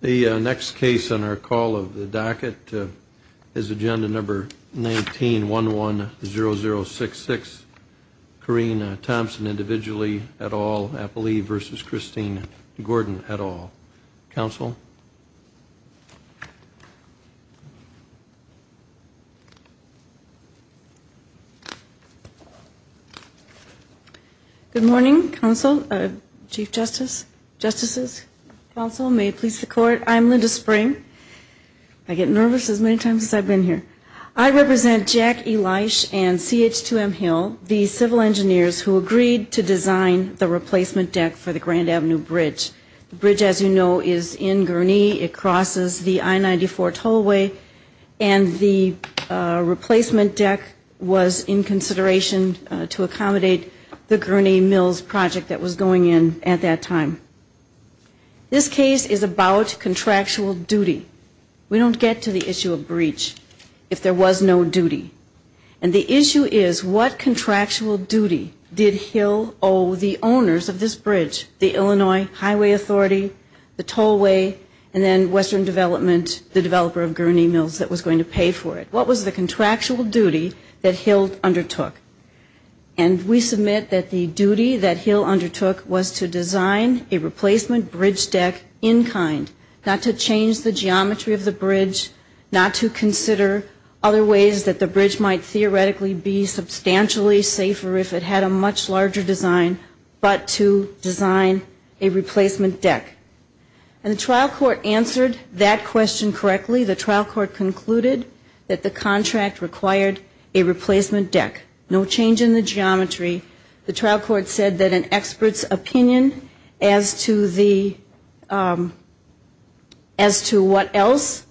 The next case on our call of the docket is agenda number 19 1 1 0 0 6 6 Kareena Thompson individually at all. I believe versus Christine Gordon at all counsel Good morning counsel chief justice justices also may it please the court. I'm Linda spring I Get nervous as many times as I've been here I represent Jack Elish and CH 2m hill the civil engineers who agreed to design the replacement deck for the Grand Avenue bridge Bridge as you know is in Gurney. It crosses the I-94 tollway and the Replacement deck was in consideration to accommodate the Gurney Mills project that was going in at that time This case is about contractual duty We don't get to the issue of breach if there was no duty and the issue is what? Authority the tollway and then Western Development the developer of Gurney Mills that was going to pay for it what was the contractual duty that Hill undertook and We submit that the duty that Hill undertook was to design a replacement bridge deck in kind Not to change the geometry of the bridge not to consider other ways that the bridge might theoretically be substantially safer if it had a much larger design, but to design a replacement deck and the trial court answered that question correctly the trial court concluded that the contract required a Replacement deck no change in the geometry the trial court said that an expert's opinion as to the as To what else?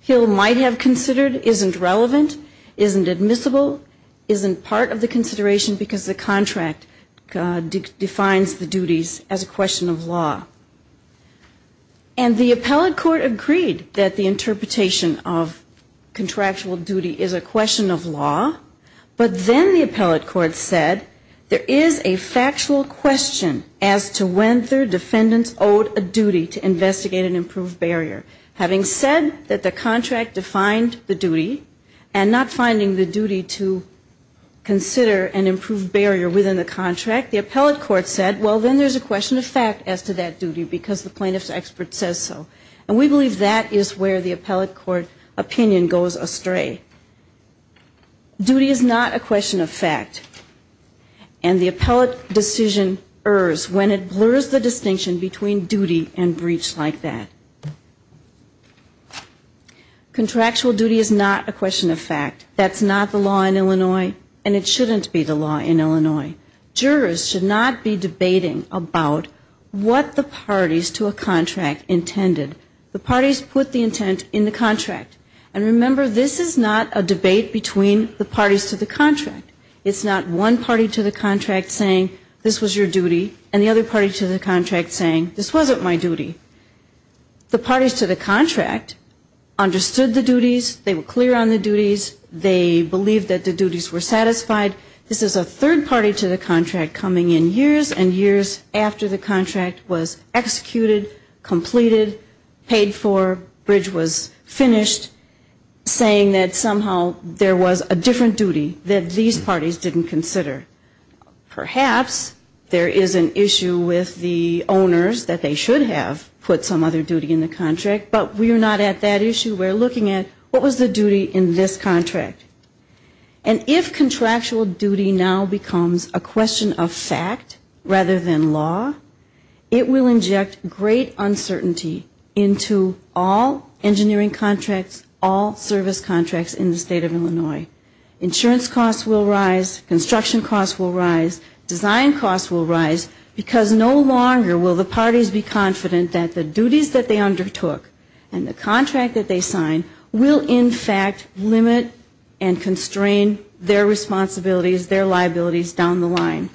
Hill might have considered isn't relevant isn't admissible isn't part of the consideration because the contract Defines the duties as a question of law and the appellate court agreed that the interpretation of Contractual duty is a question of law But then the appellate court said there is a factual question as to when third defendants owed a duty to investigate an improved barrier having said that the contract defined the duty and not finding the duty to Consider an improved barrier within the contract the appellate court said well Then there's a question of fact as to that duty because the plaintiffs expert says so and we believe that is where the appellate court opinion goes astray Duty is not a question of fact and The appellate decision errs when it blurs the distinction between duty and breach like that Contractual duty is not a question of fact That's not the law in Illinois, and it shouldn't be the law in Illinois jurors should not be debating about What the parties to a contract intended the parties put the intent in the contract and remember? This is not a debate between the parties to the contract It's not one party to the contract saying this was your duty and the other party to the contract saying this wasn't my duty The parties to the contract Understood the duties they were clear on the duties. They believed that the duties were satisfied This is a third party to the contract coming in years and years after the contract was executed Completed paid for bridge was finished Saying that somehow there was a different duty that these parties didn't consider Perhaps there is an issue with the owners that they should have put some other duty in the contract But we are not at that issue. We're looking at what was the duty in this contract and If contractual duty now becomes a question of fact rather than law It will inject great uncertainty into all engineering contracts all service contracts in the state of Illinois Insurance costs will rise construction costs will rise design costs will rise because no longer will the parties be confident that the duties that they undertook and the contract that they sign will in fact limit and Constrain their responsibilities their liabilities down the line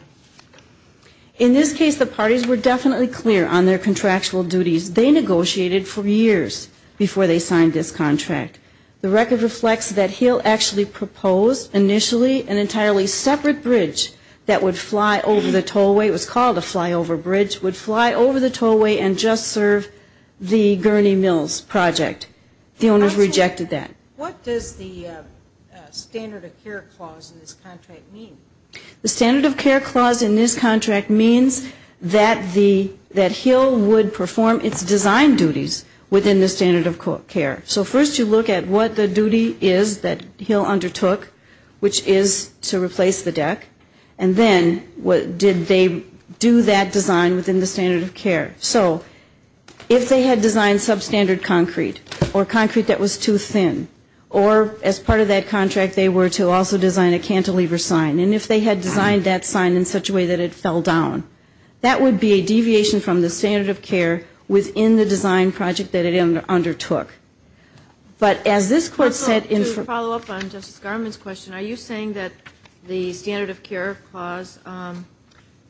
In this case the parties were definitely clear on their contractual duties They negotiated for years before they signed this contract the record reflects that he'll actually propose Initially an entirely separate bridge that would fly over the tollway It was called a flyover bridge would fly over the tollway and just serve the Gurney Mills project the owners rejected that what does the standard of care clause The standard of care clause in this contract means that the that hill would perform its design duties Within the standard of care. So first you look at what the duty is that he'll undertook which is to replace the deck and then what did they do that design within the standard of care, so If they had designed substandard concrete or concrete that was too thin or as part of that contract They were to also design a cantilever sign And if they had designed that sign in such a way that it fell down That would be a deviation from the standard of care within the design project that it undertook But as this court set in for follow-up on Justice Garmon's question, are you saying that the standard of care clause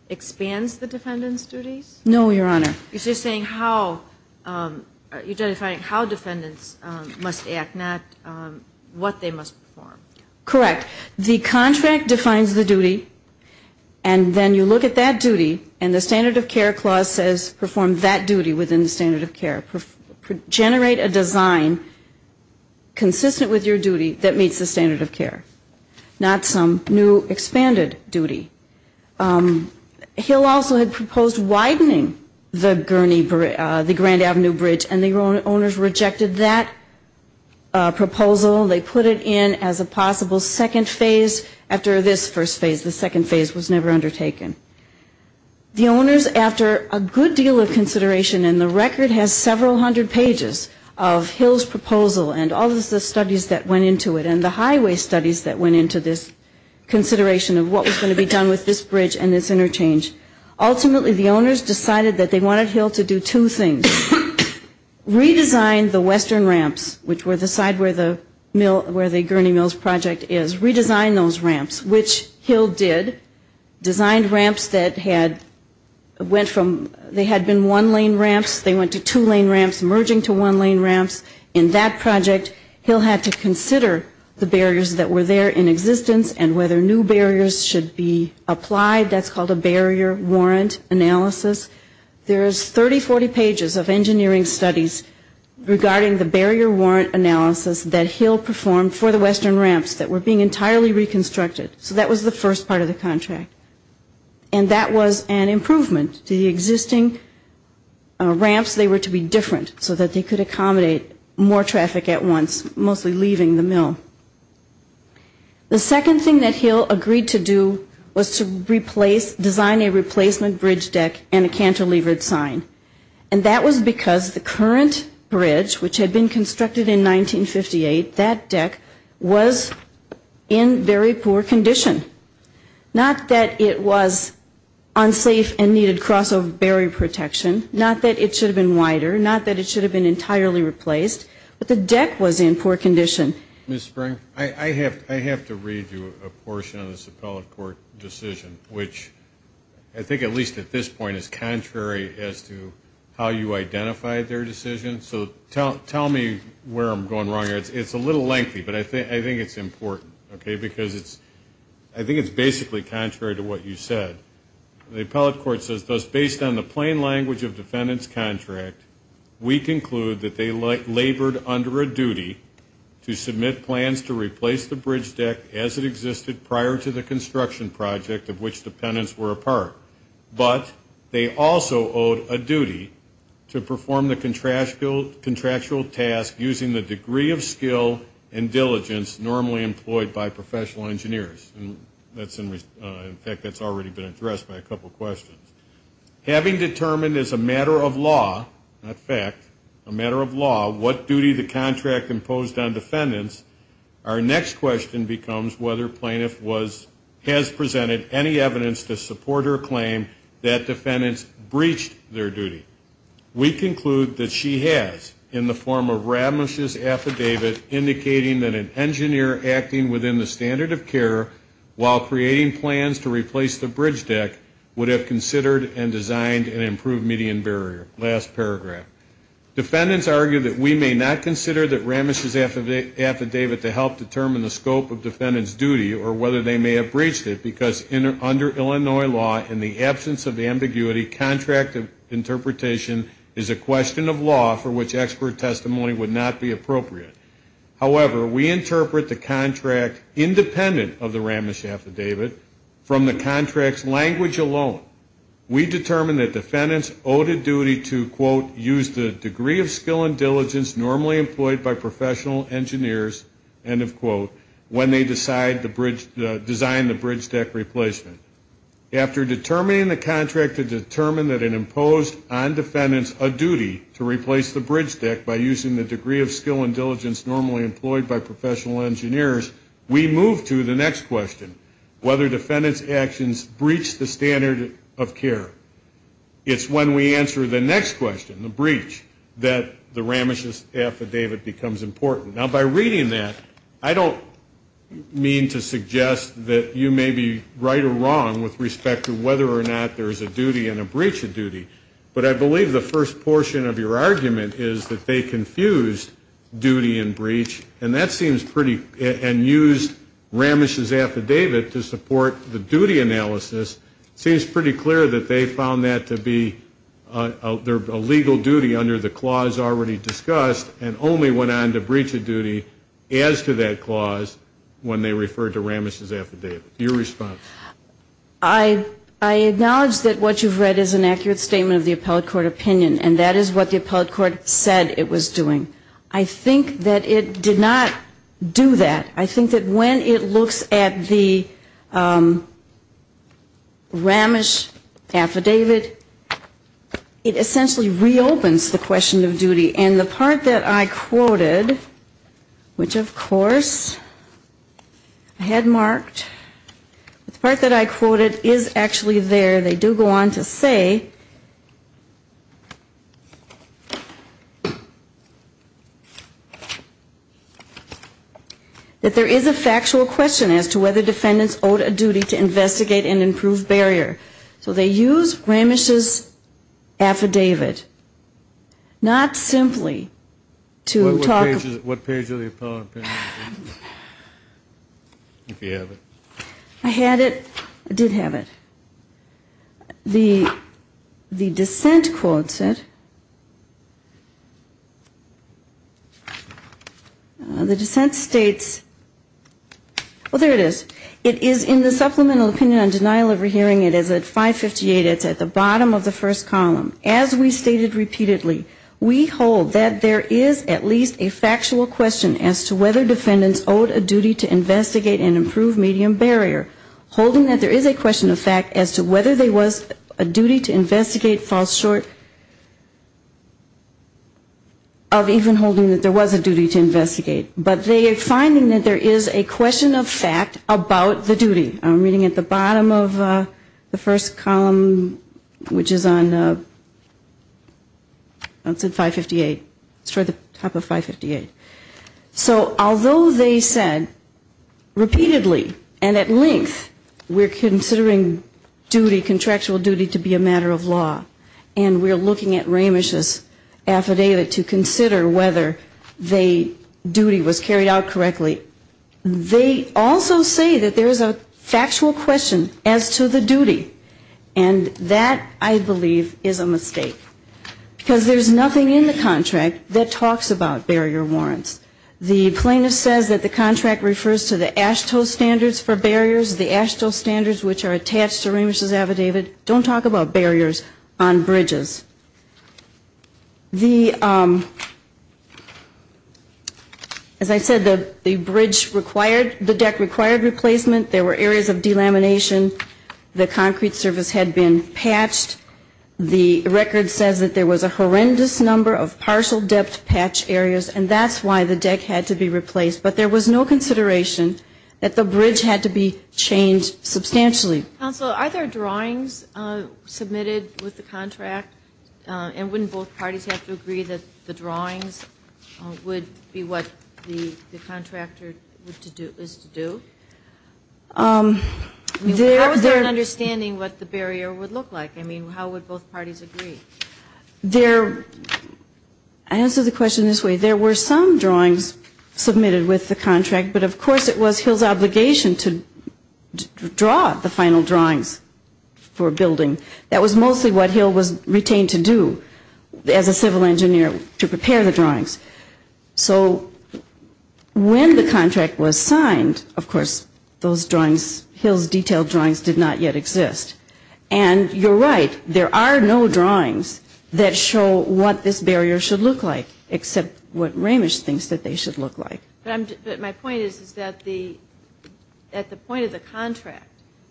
Expands the defendants duties. No, your honor. It's just saying how You're just saying how defendants must act not what they must perform correct the contract defines the duty and Then you look at that duty and the standard of care clause says perform that duty within the standard of care Generate a design Consistent with your duty that meets the standard of care not some new expanded duty He'll also had proposed widening the gurney the Grand Avenue Bridge and the owners rejected that Proposal they put it in as a possible second phase after this first phase the second phase was never undertaken The owners after a good deal of consideration and the record has several hundred pages of Hill's proposal and all of the studies that went into it and the highway studies that went into this Consideration of what was going to be done with this bridge and this interchange Ultimately the owners decided that they wanted Hill to do two things Redesign the western ramps which were the side where the mill where the gurney mills project is redesign those ramps which Hill did designed ramps that had Went from they had been one lane ramps They went to two lane ramps merging to one lane ramps in that project He'll had to consider the barriers that were there in existence and whether new barriers should be applied That's called a barrier warrant analysis. There's 30 40 pages of engineering studies Regarding the barrier warrant analysis that Hill performed for the western ramps that were being entirely reconstructed so that was the first part of the contract and That was an improvement to the existing Ramps they were to be different so that they could accommodate more traffic at once mostly leaving the mill The second thing that Hill agreed to do was to replace design a replacement bridge deck and a cantilevered sign And that was because the current bridge which had been constructed in 1958 that deck was In very poor condition Not that it was Unsafe and needed crossover barrier protection not that it should have been wider not that it should have been entirely replaced But the deck was in poor condition miss spring I have I have to read you a portion of this appellate court decision Which I think at least at this point is contrary as to how you identify their decision So tell me where I'm going wrong. It's it's a little lengthy, but I think I think it's important Okay, because it's I think it's basically contrary to what you said The appellate court says thus based on the plain language of defendants contract We conclude that they like labored under a duty To submit plans to replace the bridge deck as it existed prior to the construction project of which dependents were a part But they also owed a duty to perform the contractual contractual task using the degree of skill and Diligence normally employed by professional engineers, and that's in fact. That's already been addressed by a couple questions Having determined as a matter of law not fact a matter of law what duty the contract imposed on defendants Our next question becomes whether plaintiff was has presented any evidence to support her claim that Defendants breached their duty We conclude that she has in the form of ramishes affidavit Indicating that an engineer acting within the standard of care While creating plans to replace the bridge deck would have considered and designed and improved median barrier last paragraph Defendants argue that we may not consider that ramishes Affidavit to help determine the scope of defendants duty or whether they may have breached it because in or under Illinois law in the absence of ambiguity Contractive interpretation is a question of law for which expert testimony would not be appropriate However, we interpret the contract independent of the ramish affidavit from the contracts language alone We determine that defendants owed a duty to quote use the degree of skill and diligence normally employed by professional Engineers and of quote when they decide the bridge design the bridge deck replacement after determining the contract to determine that an imposed on Defendants a duty to replace the bridge deck by using the degree of skill and diligence normally employed by professional engineers We move to the next question whether defendants actions breach the standard of care It's when we answer the next question the breach that the ramishes affidavit becomes important now by reading that I don't Mean to suggest that you may be right or wrong with respect to whether or not there is a duty and a breach of duty But I believe the first portion of your argument is that they confused Duty and breach and that seems pretty and used Ramesh's affidavit to support the duty analysis seems pretty clear that they found that to be There a legal duty under the clause already discussed and only went on to breach a duty as to that clause when they referred to ramishes affidavit your response I I Acknowledged that what you've read is an accurate statement of the appellate court opinion And that is what the appellate court said it was doing. I think that it did not do that I think that when it looks at the Ramesh affidavit It essentially reopens the question of duty and the part that I quoted which of course Had marked the part that I quoted is actually there they do go on to say That There is a factual question as to whether defendants owed a duty to investigate and improve barrier so they use Ramesh's affidavit not simply To talk. What page of the appellate? If you have it I had it I did have it the The dissent quote said The dissent states Well, there it is it is in the supplemental opinion on denial of rehearing it is at 558 It's at the bottom of the first column as we stated repeatedly We hold that there is at least a factual question as to whether defendants owed a duty to investigate and improve medium barrier Holding that there is a question of fact as to whether they was a duty to investigate falls short of Even holding that there was a duty to investigate but they are finding that there is a question of fact about the duty I'm reading at the bottom of the first column which is on That's at 558 it's for the top of 558 so although they said Repeatedly and at length We're considering duty contractual duty to be a matter of law and we're looking at Ramesh's Affidavit to consider whether they duty was carried out correctly they also say that there is a factual question as to the duty and That I believe is a mistake Because there's nothing in the contract that talks about barrier warrants The plaintiff says that the contract refers to the AASHTO standards for barriers the AASHTO standards Which are attached to Ramesh's affidavit don't talk about barriers on bridges The As I said the the bridge required the deck required replacement there were areas of delamination The concrete surface had been patched The record says that there was a horrendous number of partial depth patch areas And that's why the deck had to be replaced, but there was no consideration that the bridge had to be changed substantially Also, are there drawings? submitted with the contract And wouldn't both parties have to agree that the drawings Would be what the the contractor would to do is to do There they're understanding what the barrier would look like I mean how would both parties agree there I Answer the question this way there were some drawings Submitted with the contract, but of course it was Hill's obligation to Draw the final drawings for a building that was mostly what Hill was retained to do as a civil engineer to prepare the drawings, so When the contract was signed of course those drawings Hill's detailed drawings did not yet exist and You're right. There are no drawings that show what this barrier should look like except What Ramesh thinks that they should look like but my point is is that the? at the point of the contract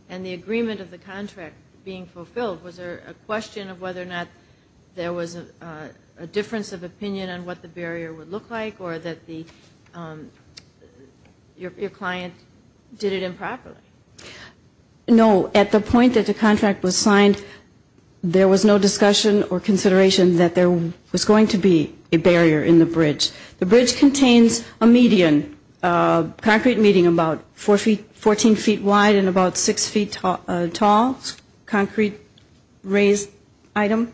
and the agreement of the contract being fulfilled was there a question of whether or not there was a Difference of opinion on what the barrier would look like or that the Your client did it improperly No at the point that the contract was signed There was no discussion or consideration that there was going to be a barrier in the bridge the bridge contains a median Concrete meeting about four feet 14 feet wide and about six feet tall tall concrete raised item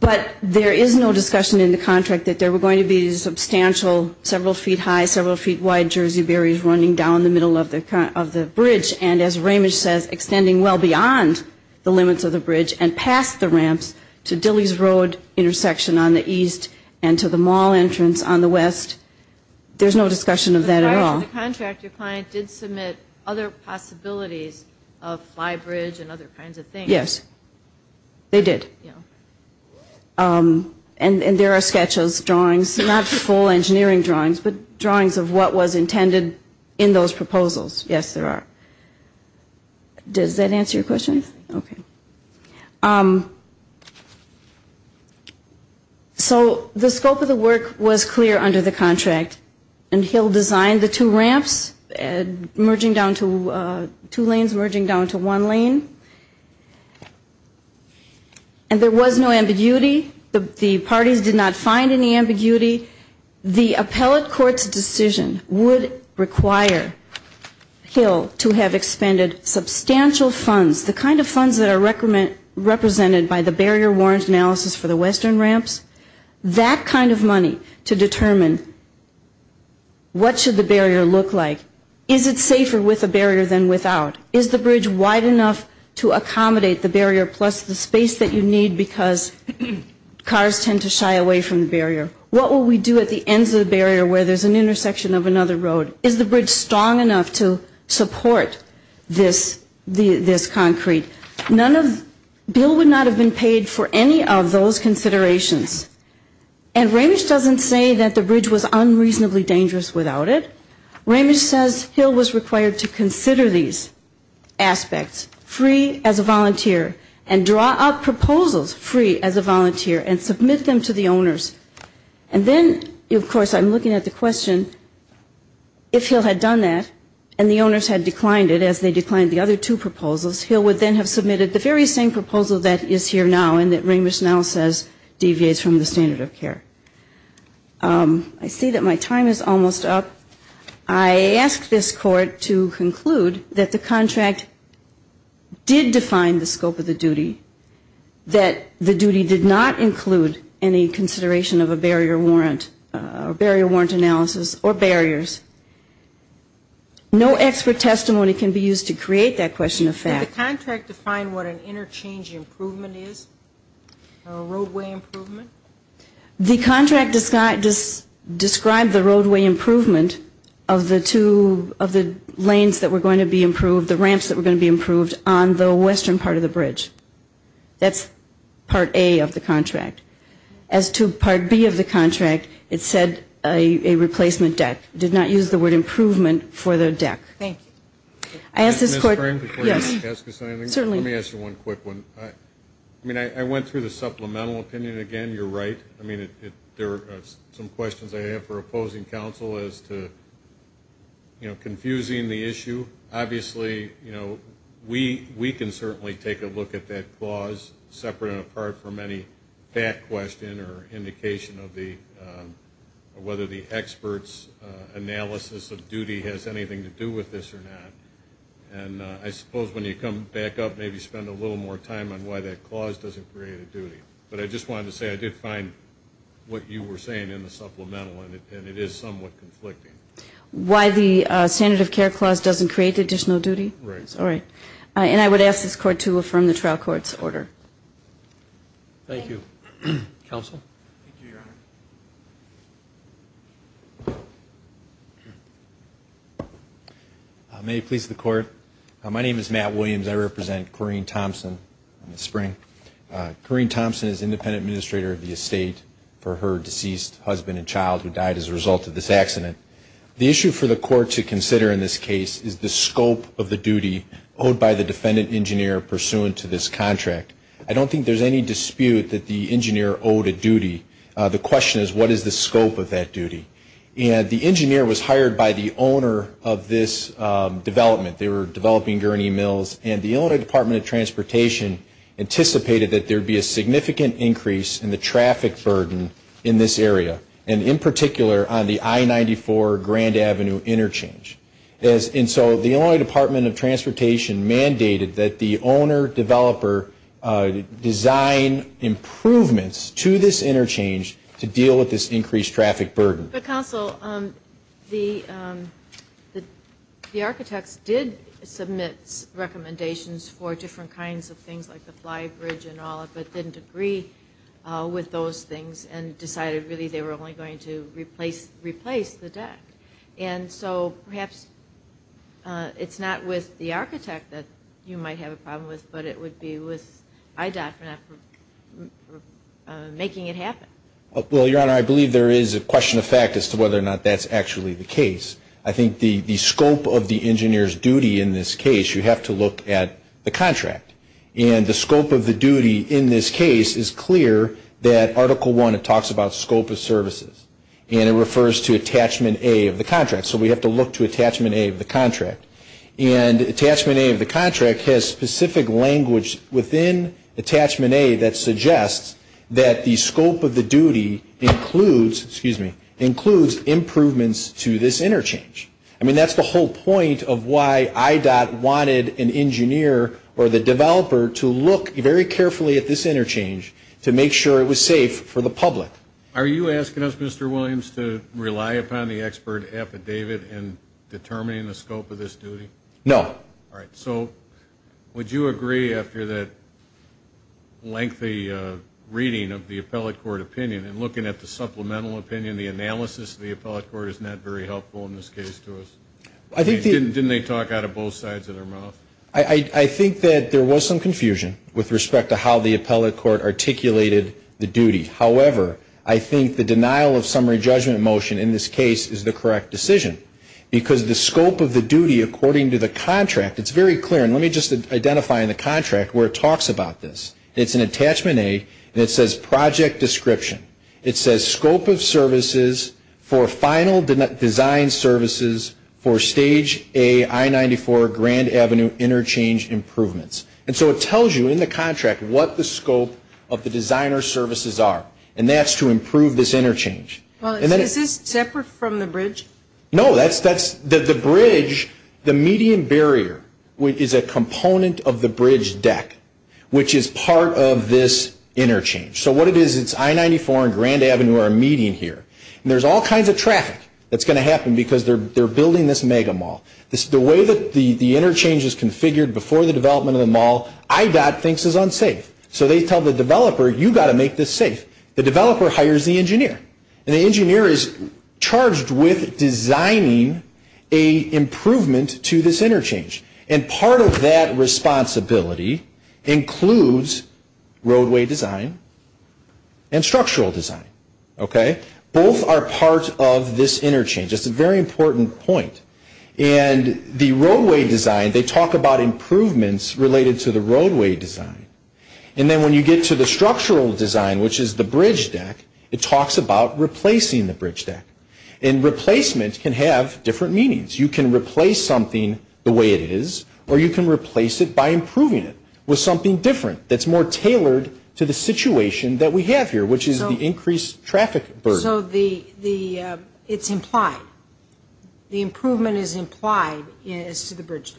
But there is no discussion in the contract that there were going to be Substantial several feet high several feet wide Jersey barriers running down the middle of the current of the bridge and as Ramesh says extending well beyond The limits of the bridge and past the ramps to Dilley's Road Intersection on the east and to the mall entrance on the west There's no discussion of that at all Your client did submit other possibilities of flybridge and other kinds of things yes They did And and there are sketches drawings not the full engineering drawings, but drawings of what was intended in those proposals yes, there are Does that answer your questions, okay? So the scope of the work was clear under the contract and he'll design the two ramps merging down to two lanes merging down to one lane and And there was no ambiguity the parties did not find any ambiguity the appellate courts decision would require Hill to have expended Substantial funds the kind of funds that are recommend represented by the barrier warrants analysis for the western ramps that kind of money to determine What should the barrier look like is it safer with a barrier than without is the bridge wide enough to accommodate the barrier plus the space that you need because Cars tend to shy away from the barrier What will we do at the ends of the barrier where there's an intersection of another road is the bridge strong enough to? support this the this concrete none of bill would not have been paid for any of those considerations and Ramesh doesn't say that the bridge was unreasonably dangerous without it Ramesh says Hill was required to consider these Aspects free as a volunteer and draw up proposals free as a volunteer and submit them to the owners and Then of course I'm looking at the question If he'll had done that and the owners had declined it as they declined the other two proposals He'll would then have submitted the very same proposal that is here now and that Ramesh now says deviates from the standard of care I see that my time is almost up. I Did define the scope of the duty That the duty did not include any consideration of a barrier warrant or barrier warrant analysis or barriers No expert testimony can be used to create that question of fact the contract to find what an interchange improvement is a roadway improvement the contract is not just Describe the roadway improvement of the two of the lanes that were going to be improved the roadway improvement The ramps that were going to be improved on the western part of the bridge that's part a of the contract as to part B of the contract it said a Replacement deck did not use the word improvement for the deck. Thank I ask this court Certainly let me ask you one quick one. I mean I went through the supplemental opinion again. You're right I mean it there are some questions. I have for opposing counsel as to You know confusing the issue obviously you know we we can certainly take a look at that clause separate and apart from any back question or indication of the whether the experts analysis of duty has anything to do with this or not and I suppose when you come back up Maybe spend a little more time on why that clause doesn't create a duty, but I just wanted to say I did find What you were saying in the supplemental and it is somewhat conflicting Why the standard of care clause doesn't create additional duty right all right, and I would ask this court to affirm the trial court's order Thank you May please the court my name is Matt Williams. I represent Corrine Thompson in the spring Corrine Thompson is independent administrator of the estate for her deceased husband and child who died as a result of this accident The issue for the court to consider in this case is the scope of the duty owed by the defendant engineer pursuant to this contract I don't think there's any dispute that the engineer owed a duty the question is what is the scope of that duty? And the engineer was hired by the owner of this Development they were developing gurney mills and the owner Department of Transportation Anticipated that there be a significant increase in the traffic burden in this area and in particular on the I-94 Grand Avenue interchange as in so the only Department of Transportation mandated that the owner developer design improvements to this interchange to deal with this increased traffic burden the council on the The architects did submit Recommendations for different kinds of things like the flybridge and all of it didn't agree With those things and decided really they were only going to replace replace the deck and so perhaps It's not with the architect that you might have a problem with but it would be with IDOT Making it happen. Well, your honor. I believe there is a question of fact as to whether or not that's actually the case I think the the scope of the engineers duty in this case You have to look at the contract and the scope of the duty in this case is clear that Article 1 it talks about scope of services and it refers to attachment a of the contract so we have to look to attachment a of the contract and Attachment a of the contract has specific language within Attachment a that suggests that the scope of the duty includes excuse me includes Improvements to this interchange I mean, that's the whole point of why I dot wanted an engineer or the developer to look very carefully at this interchange To make sure it was safe for the public. Are you asking us? Mr. Williams to rely upon the expert affidavit and Determining the scope of this duty. No. All right, so Would you agree after that? lengthy Reading of the appellate court opinion and looking at the supplemental opinion The analysis of the appellate court is not very helpful in this case to us I think didn't didn't they talk out of both sides of their mouth? I I think that there was some confusion with respect to how the appellate court articulated the duty However, I think the denial of summary judgment motion in this case is the correct decision Because the scope of the duty according to the contract it's very clear And let me just identify in the contract where it talks about this. It's an attachment a and it says project description It says scope of services for final design services for stage a I 94 Grand Avenue interchange improvements And so it tells you in the contract what the scope of the designer services are and that's to improve this interchange Well, and then is this separate from the bridge? No, that's that's that the bridge the median barrier Which is a component of the bridge deck, which is part of this interchange So what it is, it's I 94 and Grand Avenue are meeting here. There's all kinds of traffic That's going to happen because they're they're building this mega mall This is the way that the the interchange is configured before the development of the mall I got thinks is unsafe so they tell the developer you got to make this safe the developer hires the engineer and the engineer is charged with designing a Improvement to this interchange and part of that responsibility includes roadway design and Structural design. Okay, both are part of this interchange. It's a very important point and The roadway design they talk about improvements related to the roadway design and then when you get to the structural design, which is the bridge deck it talks about replacing the bridge deck and Replacement can have different meanings you can replace something the way it is or you can replace it by improving it with something different That's more tailored to the situation that we have here, which is the increased traffic. There's no the the it's implied The improvement is implied is to the bridge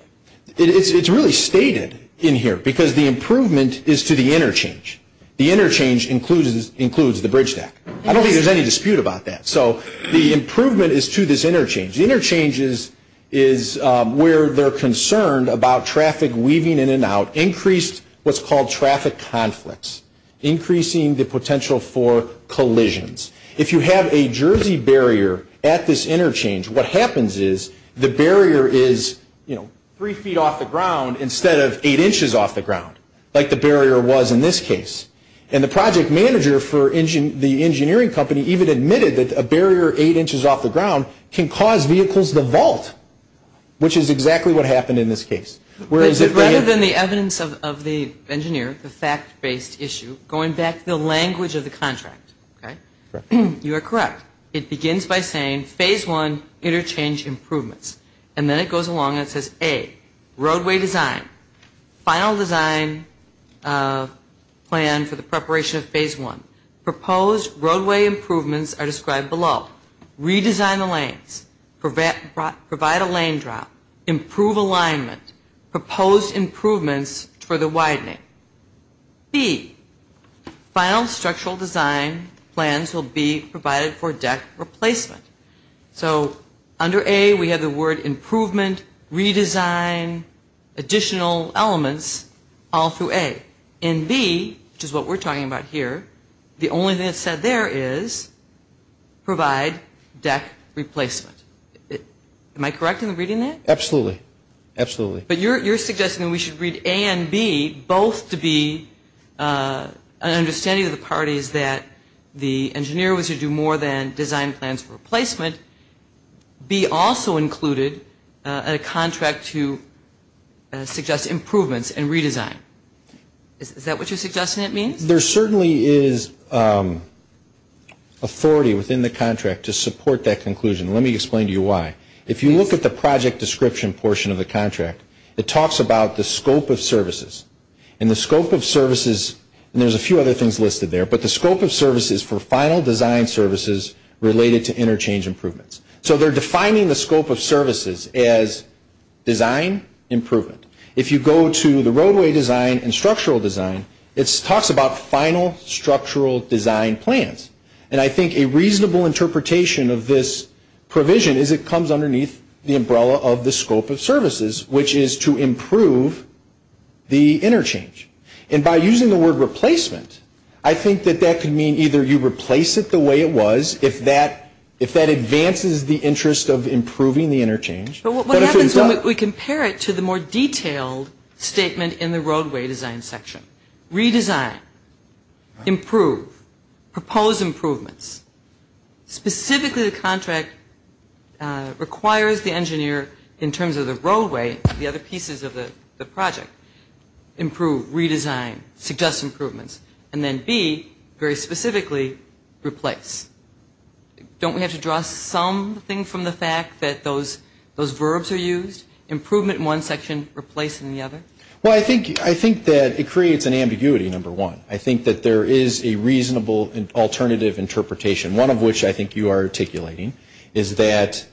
It's really stated in here because the improvement is to the interchange the interchange Includes includes the bridge deck. I don't think there's any dispute about that. So the improvement is to this interchange the interchanges is Where they're concerned about traffic weaving in and out increased what's called traffic conflicts increasing the potential for Collisions if you have a Jersey barrier at this interchange What happens is the barrier is you know? Three feet off the ground instead of eight inches off the ground like the barrier was in this case and the project manager for engine The engineering company even admitted that a barrier eight inches off the ground can cause vehicles the vault Which is exactly what happened in this case Where is it rather than the evidence of the engineer the fact-based issue going back the language of the contract, right? You're correct. It begins by saying phase one interchange improvements, and then it goes along It says a roadway design final design Plan for the preparation of phase one proposed roadway improvements are described below Redesign the lanes for that brought provide a lane drop improve alignment proposed improvements for the widening be Final structural design plans will be provided for deck replacement So under a we have the word improvement redesign Additional elements all through a in B. Which is what we're talking about here. The only thing that said there is provide deck replacement Am I correct in the reading that absolutely absolutely, but you're you're suggesting. We should read a and B both to be Understanding of the parties that the engineer was to do more than design plans for replacement be also included at a contract to Suggest improvements and redesign is that what you're suggesting it means there certainly is Authority within the contract to support that conclusion Let me explain to you why if you look at the project description portion of the contract it talks about the scope of services And the scope of services, and there's a few other things listed there But the scope of services for final design services related to interchange improvements, so they're defining the scope of services as Design improvement if you go to the roadway design and structural design it talks about final Structural design plans, and I think a reasonable interpretation of this Provision is it comes underneath the umbrella of the scope of services which is to improve? The interchange and by using the word replacement I think that that could mean either you replace it the way it was if that if that Advances the interest of improving the interchange, but what we compare it to the more detailed statement in the roadway design section redesign improve propose improvements specifically the contract Requires the engineer in terms of the roadway the other pieces of the project Improve redesign suggest improvements, and then be very specifically replace Don't we have to draw something from the fact that those those verbs are used Improvement in one section replacing the other well. I think I think that it creates an ambiguity number one I think that there is a reasonable and alternative interpretation one of which I think you are articulating is that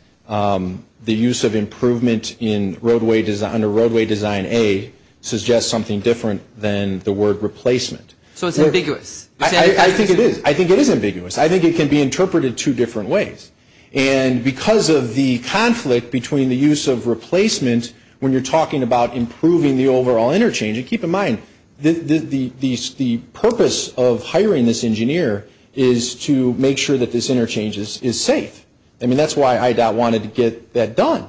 the use of improvement in roadway design a roadway design a Suggests something different than the word replacement, so it's ambiguous. I think it is. I think it is ambiguous I think it can be interpreted two different ways and Because of the conflict between the use of replacement when you're talking about improving the overall interchange and keep in mind The the these the purpose of hiring this engineer is to make sure that this interchanges is safe I mean, that's why I doubt wanted to get that done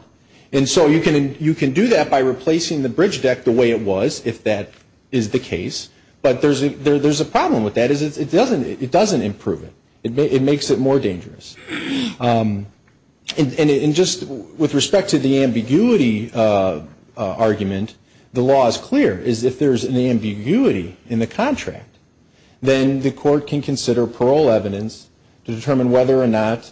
And so you can you can do that by replacing the bridge deck the way it was if that is the case But there's a there. There's a problem with that is it doesn't it doesn't improve it. It makes it more dangerous And in just with respect to the ambiguity Argument the law is clear is if there's an ambiguity in the contract Then the court can consider parole evidence to determine whether or not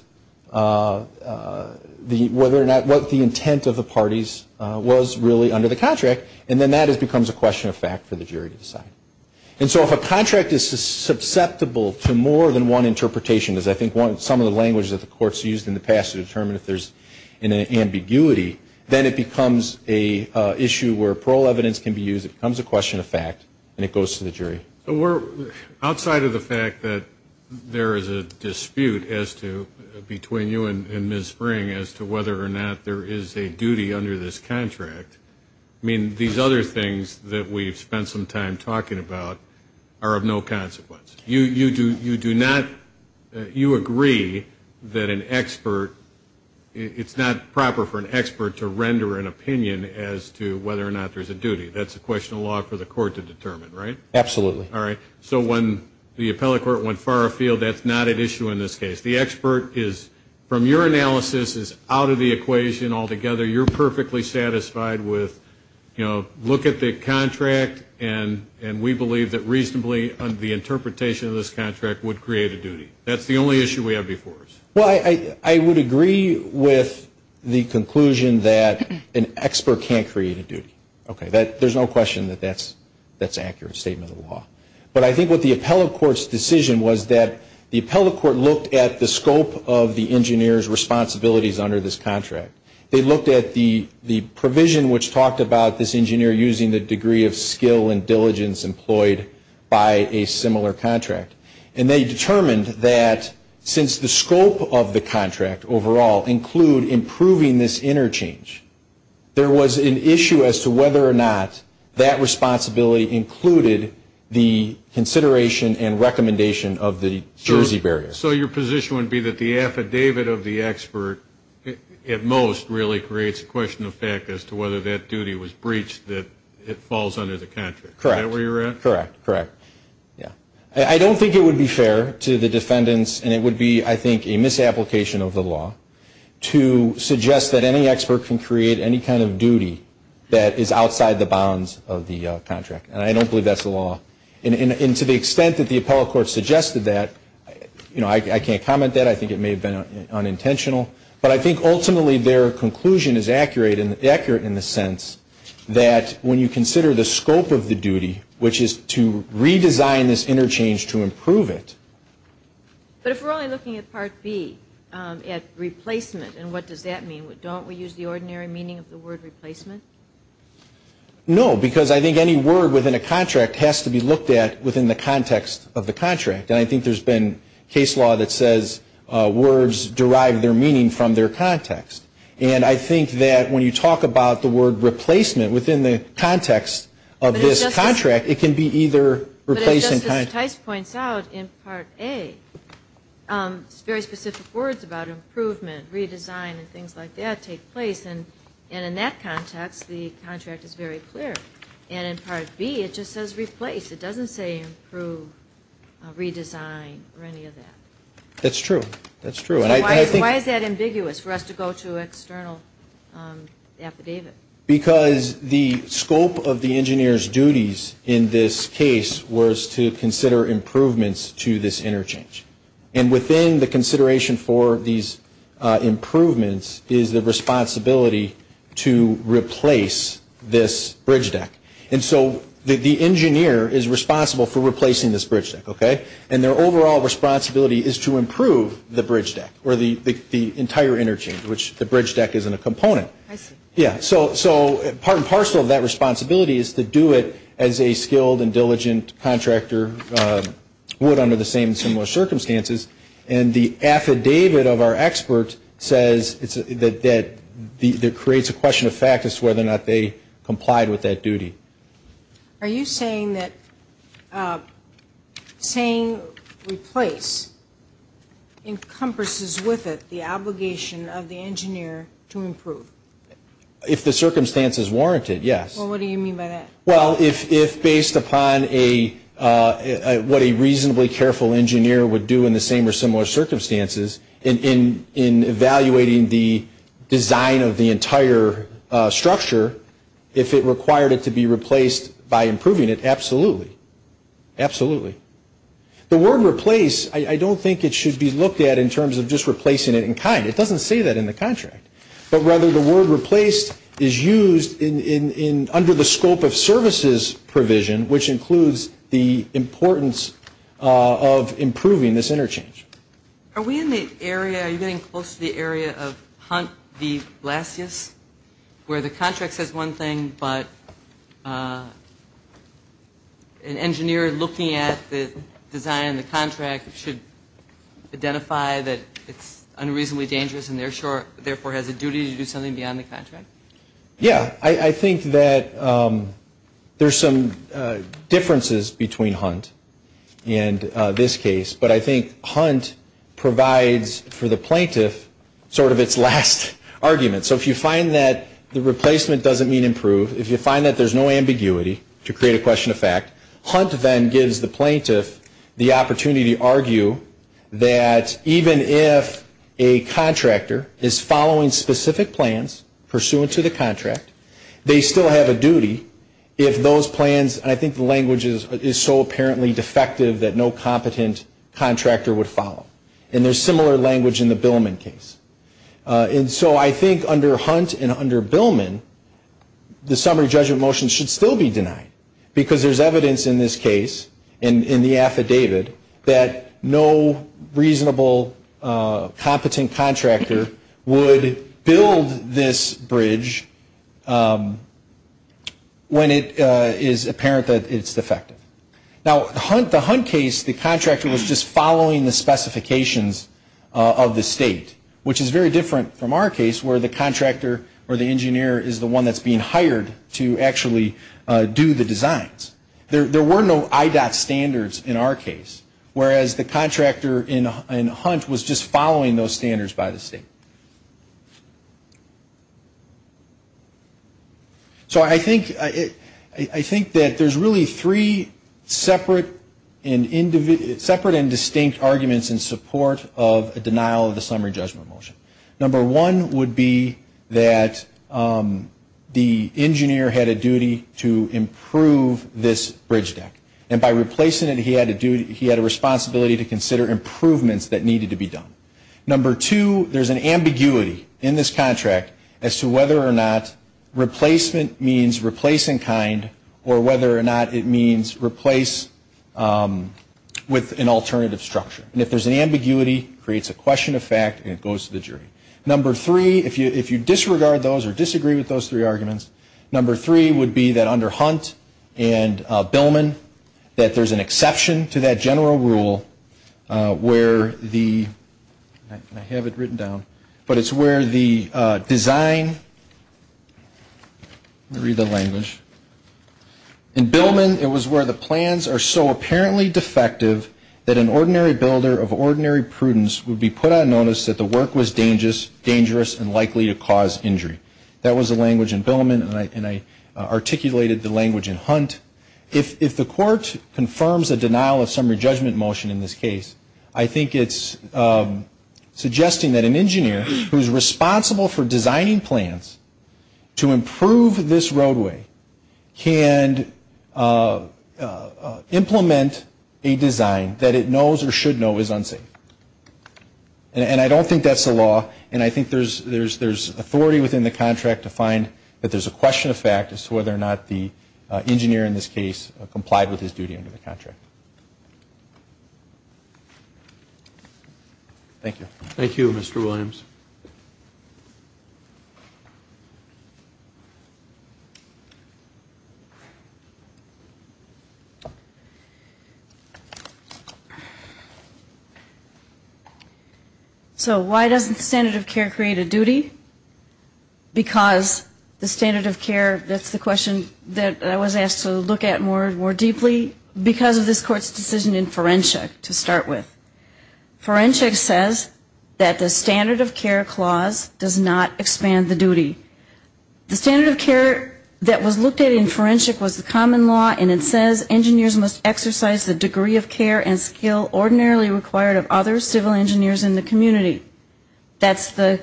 The whether or not what the intent of the parties Was really under the contract and then that is becomes a question of fact for the jury to decide and so if a contract is susceptible to more than one interpretation does I think want some of the language that the courts used in the past to determine if there's in an ambiguity then it becomes a Issue where parole evidence can be used it becomes a question of fact and it goes to the jury We're outside of the fact that There is a dispute as to between you and miss spring as to whether or not there is a duty under this contract I mean these other things that we've spent some time talking about are of no consequence you you do you do not You agree that an expert? It's not proper for an expert to render an opinion as to whether or not there's a duty That's a question of law for the court to determine right absolutely all right so when the appellate court went far afield That's not an issue in this case the expert is from your analysis is out of the equation altogether You're perfectly satisfied with you know look at the contract And and we believe that reasonably under the interpretation of this contract would create a duty That's the only issue we have before us well I I would agree with the conclusion that an expert can't create a duty Okay, that there's no question that that's that's accurate statement of law But I think what the appellate court's decision was that the appellate court looked at the scope of the engineers Responsibilities under this contract they looked at the the provision which talked about this engineer using the degree of skill and diligence Employed by a similar contract and they determined that Since the scope of the contract overall include improving this interchange There was an issue as to whether or not that responsibility included the Consideration and recommendation of the Jersey barrier so your position would be that the affidavit of the expert At most really creates a question of fact as to whether that duty was breached that it falls under the contract Correct where you're at correct correct? Yeah I don't think it would be fair to the defendants and it would be I think a misapplication of the law To suggest that any expert can create any kind of duty that is outside the bounds of the contract And I don't believe that's the law and into the extent that the appellate court suggested that You know I can't comment that I think it may have been Unintentional, but I think ultimately their conclusion is accurate in the accurate in the sense That when you consider the scope of the duty, which is to redesign this interchange to improve it But if we're only looking at part B at replacement, and what does that mean we don't we use the ordinary meaning of the word replacement No, because I think any word within a contract has to be looked at within the context of the contract And I think there's been case law that says Words derive their meaning from their context and I think that when you talk about the word Replacement within the context of this contract it can be either Replacing price points out in part a Very specific words about improvement redesign and things like that take place and and in that context the contract is very clear And in part B. It just says replace. It doesn't say improve Redesign or any of that that's true. That's true, and I think why is that ambiguous for us to go to external? Affidavit because the scope of the engineers duties in this case was to consider improvements to this interchange and within the consideration for these improvements is the responsibility to Replace this bridge deck and so that the engineer is responsible for replacing this bridge deck Yeah, so so part and parcel of that responsibility is to do it as a skilled and diligent contractor would under the same similar circumstances and the Affidavit of our expert says it's that that the there creates a question of fact as to whether or not they complied with that duty Are you saying that? Saying replace Encompasses with it the obligation of the engineer to improve If the circumstances warranted yes, what do you mean by that? Well if if based upon a What a reasonably careful engineer would do in the same or similar circumstances in in in evaluating the? design of the entire Structure if it required it to be replaced by improving it absolutely absolutely The word replace. I don't think it should be looked at in terms of just replacing it in kind It doesn't say that in the contract, but rather the word replaced is used in in in under the scope of services provision which includes the importance of Improving this interchange are we in the area are you getting close to the area of hunt the last yes? where the contract says one thing but an engineer looking at the design the contract should Identify that it's unreasonably dangerous, and they're short therefore has a duty to do something beyond the contract. Yeah, I think that there's some differences between hunt and This case, but I think hunt Provides for the plaintiff sort of its last Argument so if you find that the replacement doesn't mean improve if you find that there's no ambiguity to create a question of fact hunt then gives the plaintiff the opportunity to argue that even if a Contractor is following specific plans pursuant to the contract They still have a duty if those plans, and I think the language is is so apparently defective that no competent Contractor would follow and there's similar language in the Billman case And so I think under hunt and under Billman The summary judgment motion should still be denied because there's evidence in this case and in the affidavit that no reasonable Competent contractor would build this bridge When it is apparent that it's defective now the hunt the hunt case the contractor was just following the Specifications of the state Which is very different from our case where the contractor or the engineer is the one that's being hired to actually do the designs There there were no IDOT standards in our case whereas the contractor in hunt was just following those standards by the state So I think it I think that there's really three separate and Separate and distinct arguments in support of a denial of the summary judgment motion number one would be that The engineer had a duty to improve this bridge deck and by replacing it He had to do he had a responsibility to consider improvements that needed to be done number two There's an ambiguity in this contract as to whether or not Replacement means replacing kind or whether or not it means replace With an alternative structure and if there's an ambiguity creates a question of fact and it goes to the jury number three if you if you disregard those or disagree with those three arguments number three would be that under hunt and Billman that there's an exception to that general rule where the Have it written down, but it's where the design Read the language In Billman it was where the plans are so apparently defective that an ordinary builder of ordinary prudence would be put on notice That the work was dangerous dangerous and likely to cause injury. That was a language in Billman and I Articulated the language in hunt if the court confirms a denial of summary judgment motion in this case. I think it's Suggesting that an engineer who's responsible for designing plans to improve this roadway can Implement a design that it knows or should know is unsafe and I don't think that's the law and I think there's there's there's authority within the contract to find that there's a question of fact as to whether or not the Engineer in this case complied with his duty under the contract Thank you, thank you, mr. Williams So Why doesn't the standard of care create a duty Because the standard of care, that's the question that I was asked to look at more and more deeply because of this court's decision in forensic to start with Forensics says that the standard of care clause does not expand the duty the standard of care That was looked at in forensic was the common law and it says engineers must exercise the degree of care and skill ordinarily required of other civil engineers in the community that's the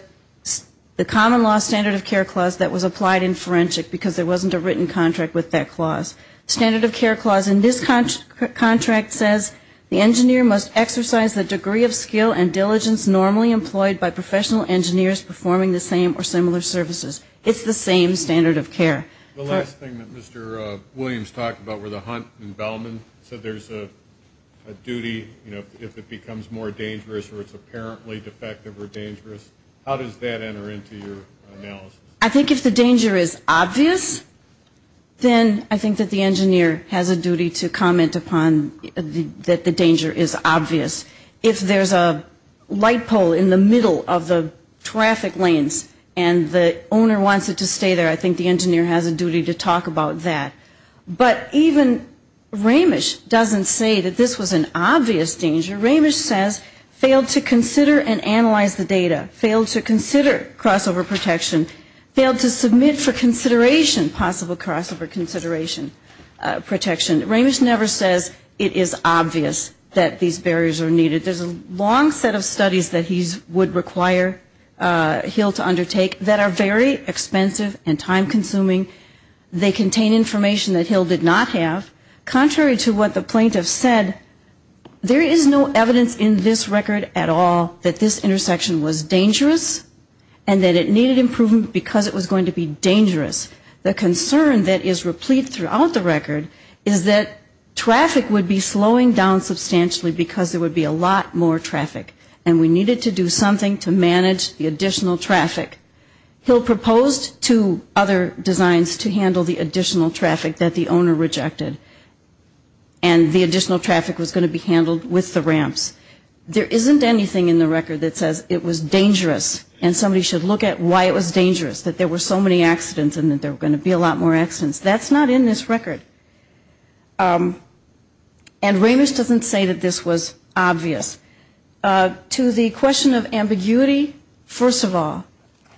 The common law standard of care clause that was applied in forensic because there wasn't a written contract with that clause Standard of care clause in this Contract says the engineer must exercise the degree of skill and diligence normally employed by professional engineers Performing the same or similar services. It's the same standard of care Williams talked about where the hunt and Bellman said there's a Duty, you know if it becomes more dangerous or it's apparently defective or dangerous. How does that enter into your analysis? I think if the danger is obvious Then I think that the engineer has a duty to comment upon that the danger is obvious if there's a light pole in the middle of the Traffic lanes and the owner wants it to stay there. I think the engineer has a duty to talk about that but even Ramesh doesn't say that this was an obvious danger Ramesh says failed to consider and analyze the data failed to consider crossover protection failed to submit for consideration possible crossover consideration Protection Ramesh never says it is obvious that these barriers are needed. There's a long set of studies that he's would require He'll to undertake that are very expensive and time-consuming They contain information that he'll did not have contrary to what the plaintiff said There is no evidence in this record at all that this intersection was dangerous and that it needed improvement because it was going to be dangerous the concern that is replete throughout the record is that Traffic would be slowing down substantially because there would be a lot more traffic and we needed to do something to manage the additional traffic he'll proposed to other designs to handle the additional traffic that the owner rejected and The additional traffic was going to be handled with the ramps There isn't anything in the record that says it was dangerous and somebody should look at why it was dangerous that there were so many Accidents and that there were going to be a lot more accidents. That's not in this record and Ramesh doesn't say that this was obvious To the question of ambiguity. First of all,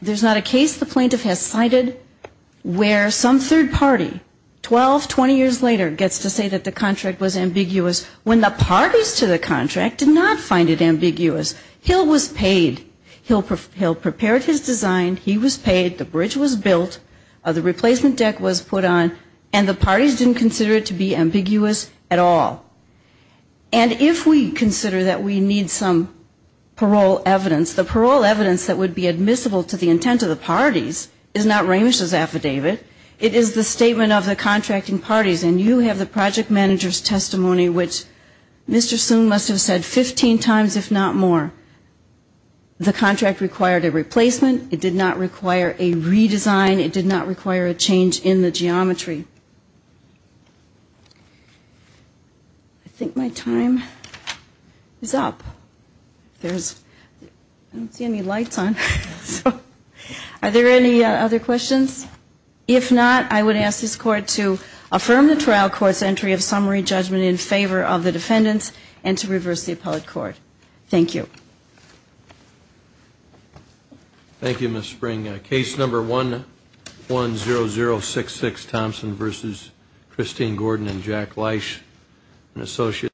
there's not a case. The plaintiff has cited Where some third party? 12 20 years later gets to say that the contract was ambiguous when the parties to the contract did not find it ambiguous Hill was paid He'll prepare his design he was paid the bridge was built of the replacement deck was put on and the parties didn't consider it to be ambiguous at all and if we consider that we need some Parole evidence the parole evidence that would be admissible to the intent of the parties is not Ramesh's affidavit It is the statement of the contracting parties and you have the project managers testimony, which? Mr. Soon must have said 15 times if not more The contract required a replacement. It did not require a redesign. It did not require a change in the geometry. I Think my time is up there's Any lights on? Are there any other questions? If not I would ask this court to affirm the trial courts entry of summary judgment in favor of the defendants and to reverse the appellate court Thank you Thank You miss spring a case number one 1-1-0-0-6-6 Thompson versus Christine Gordon and Jack Leish an associate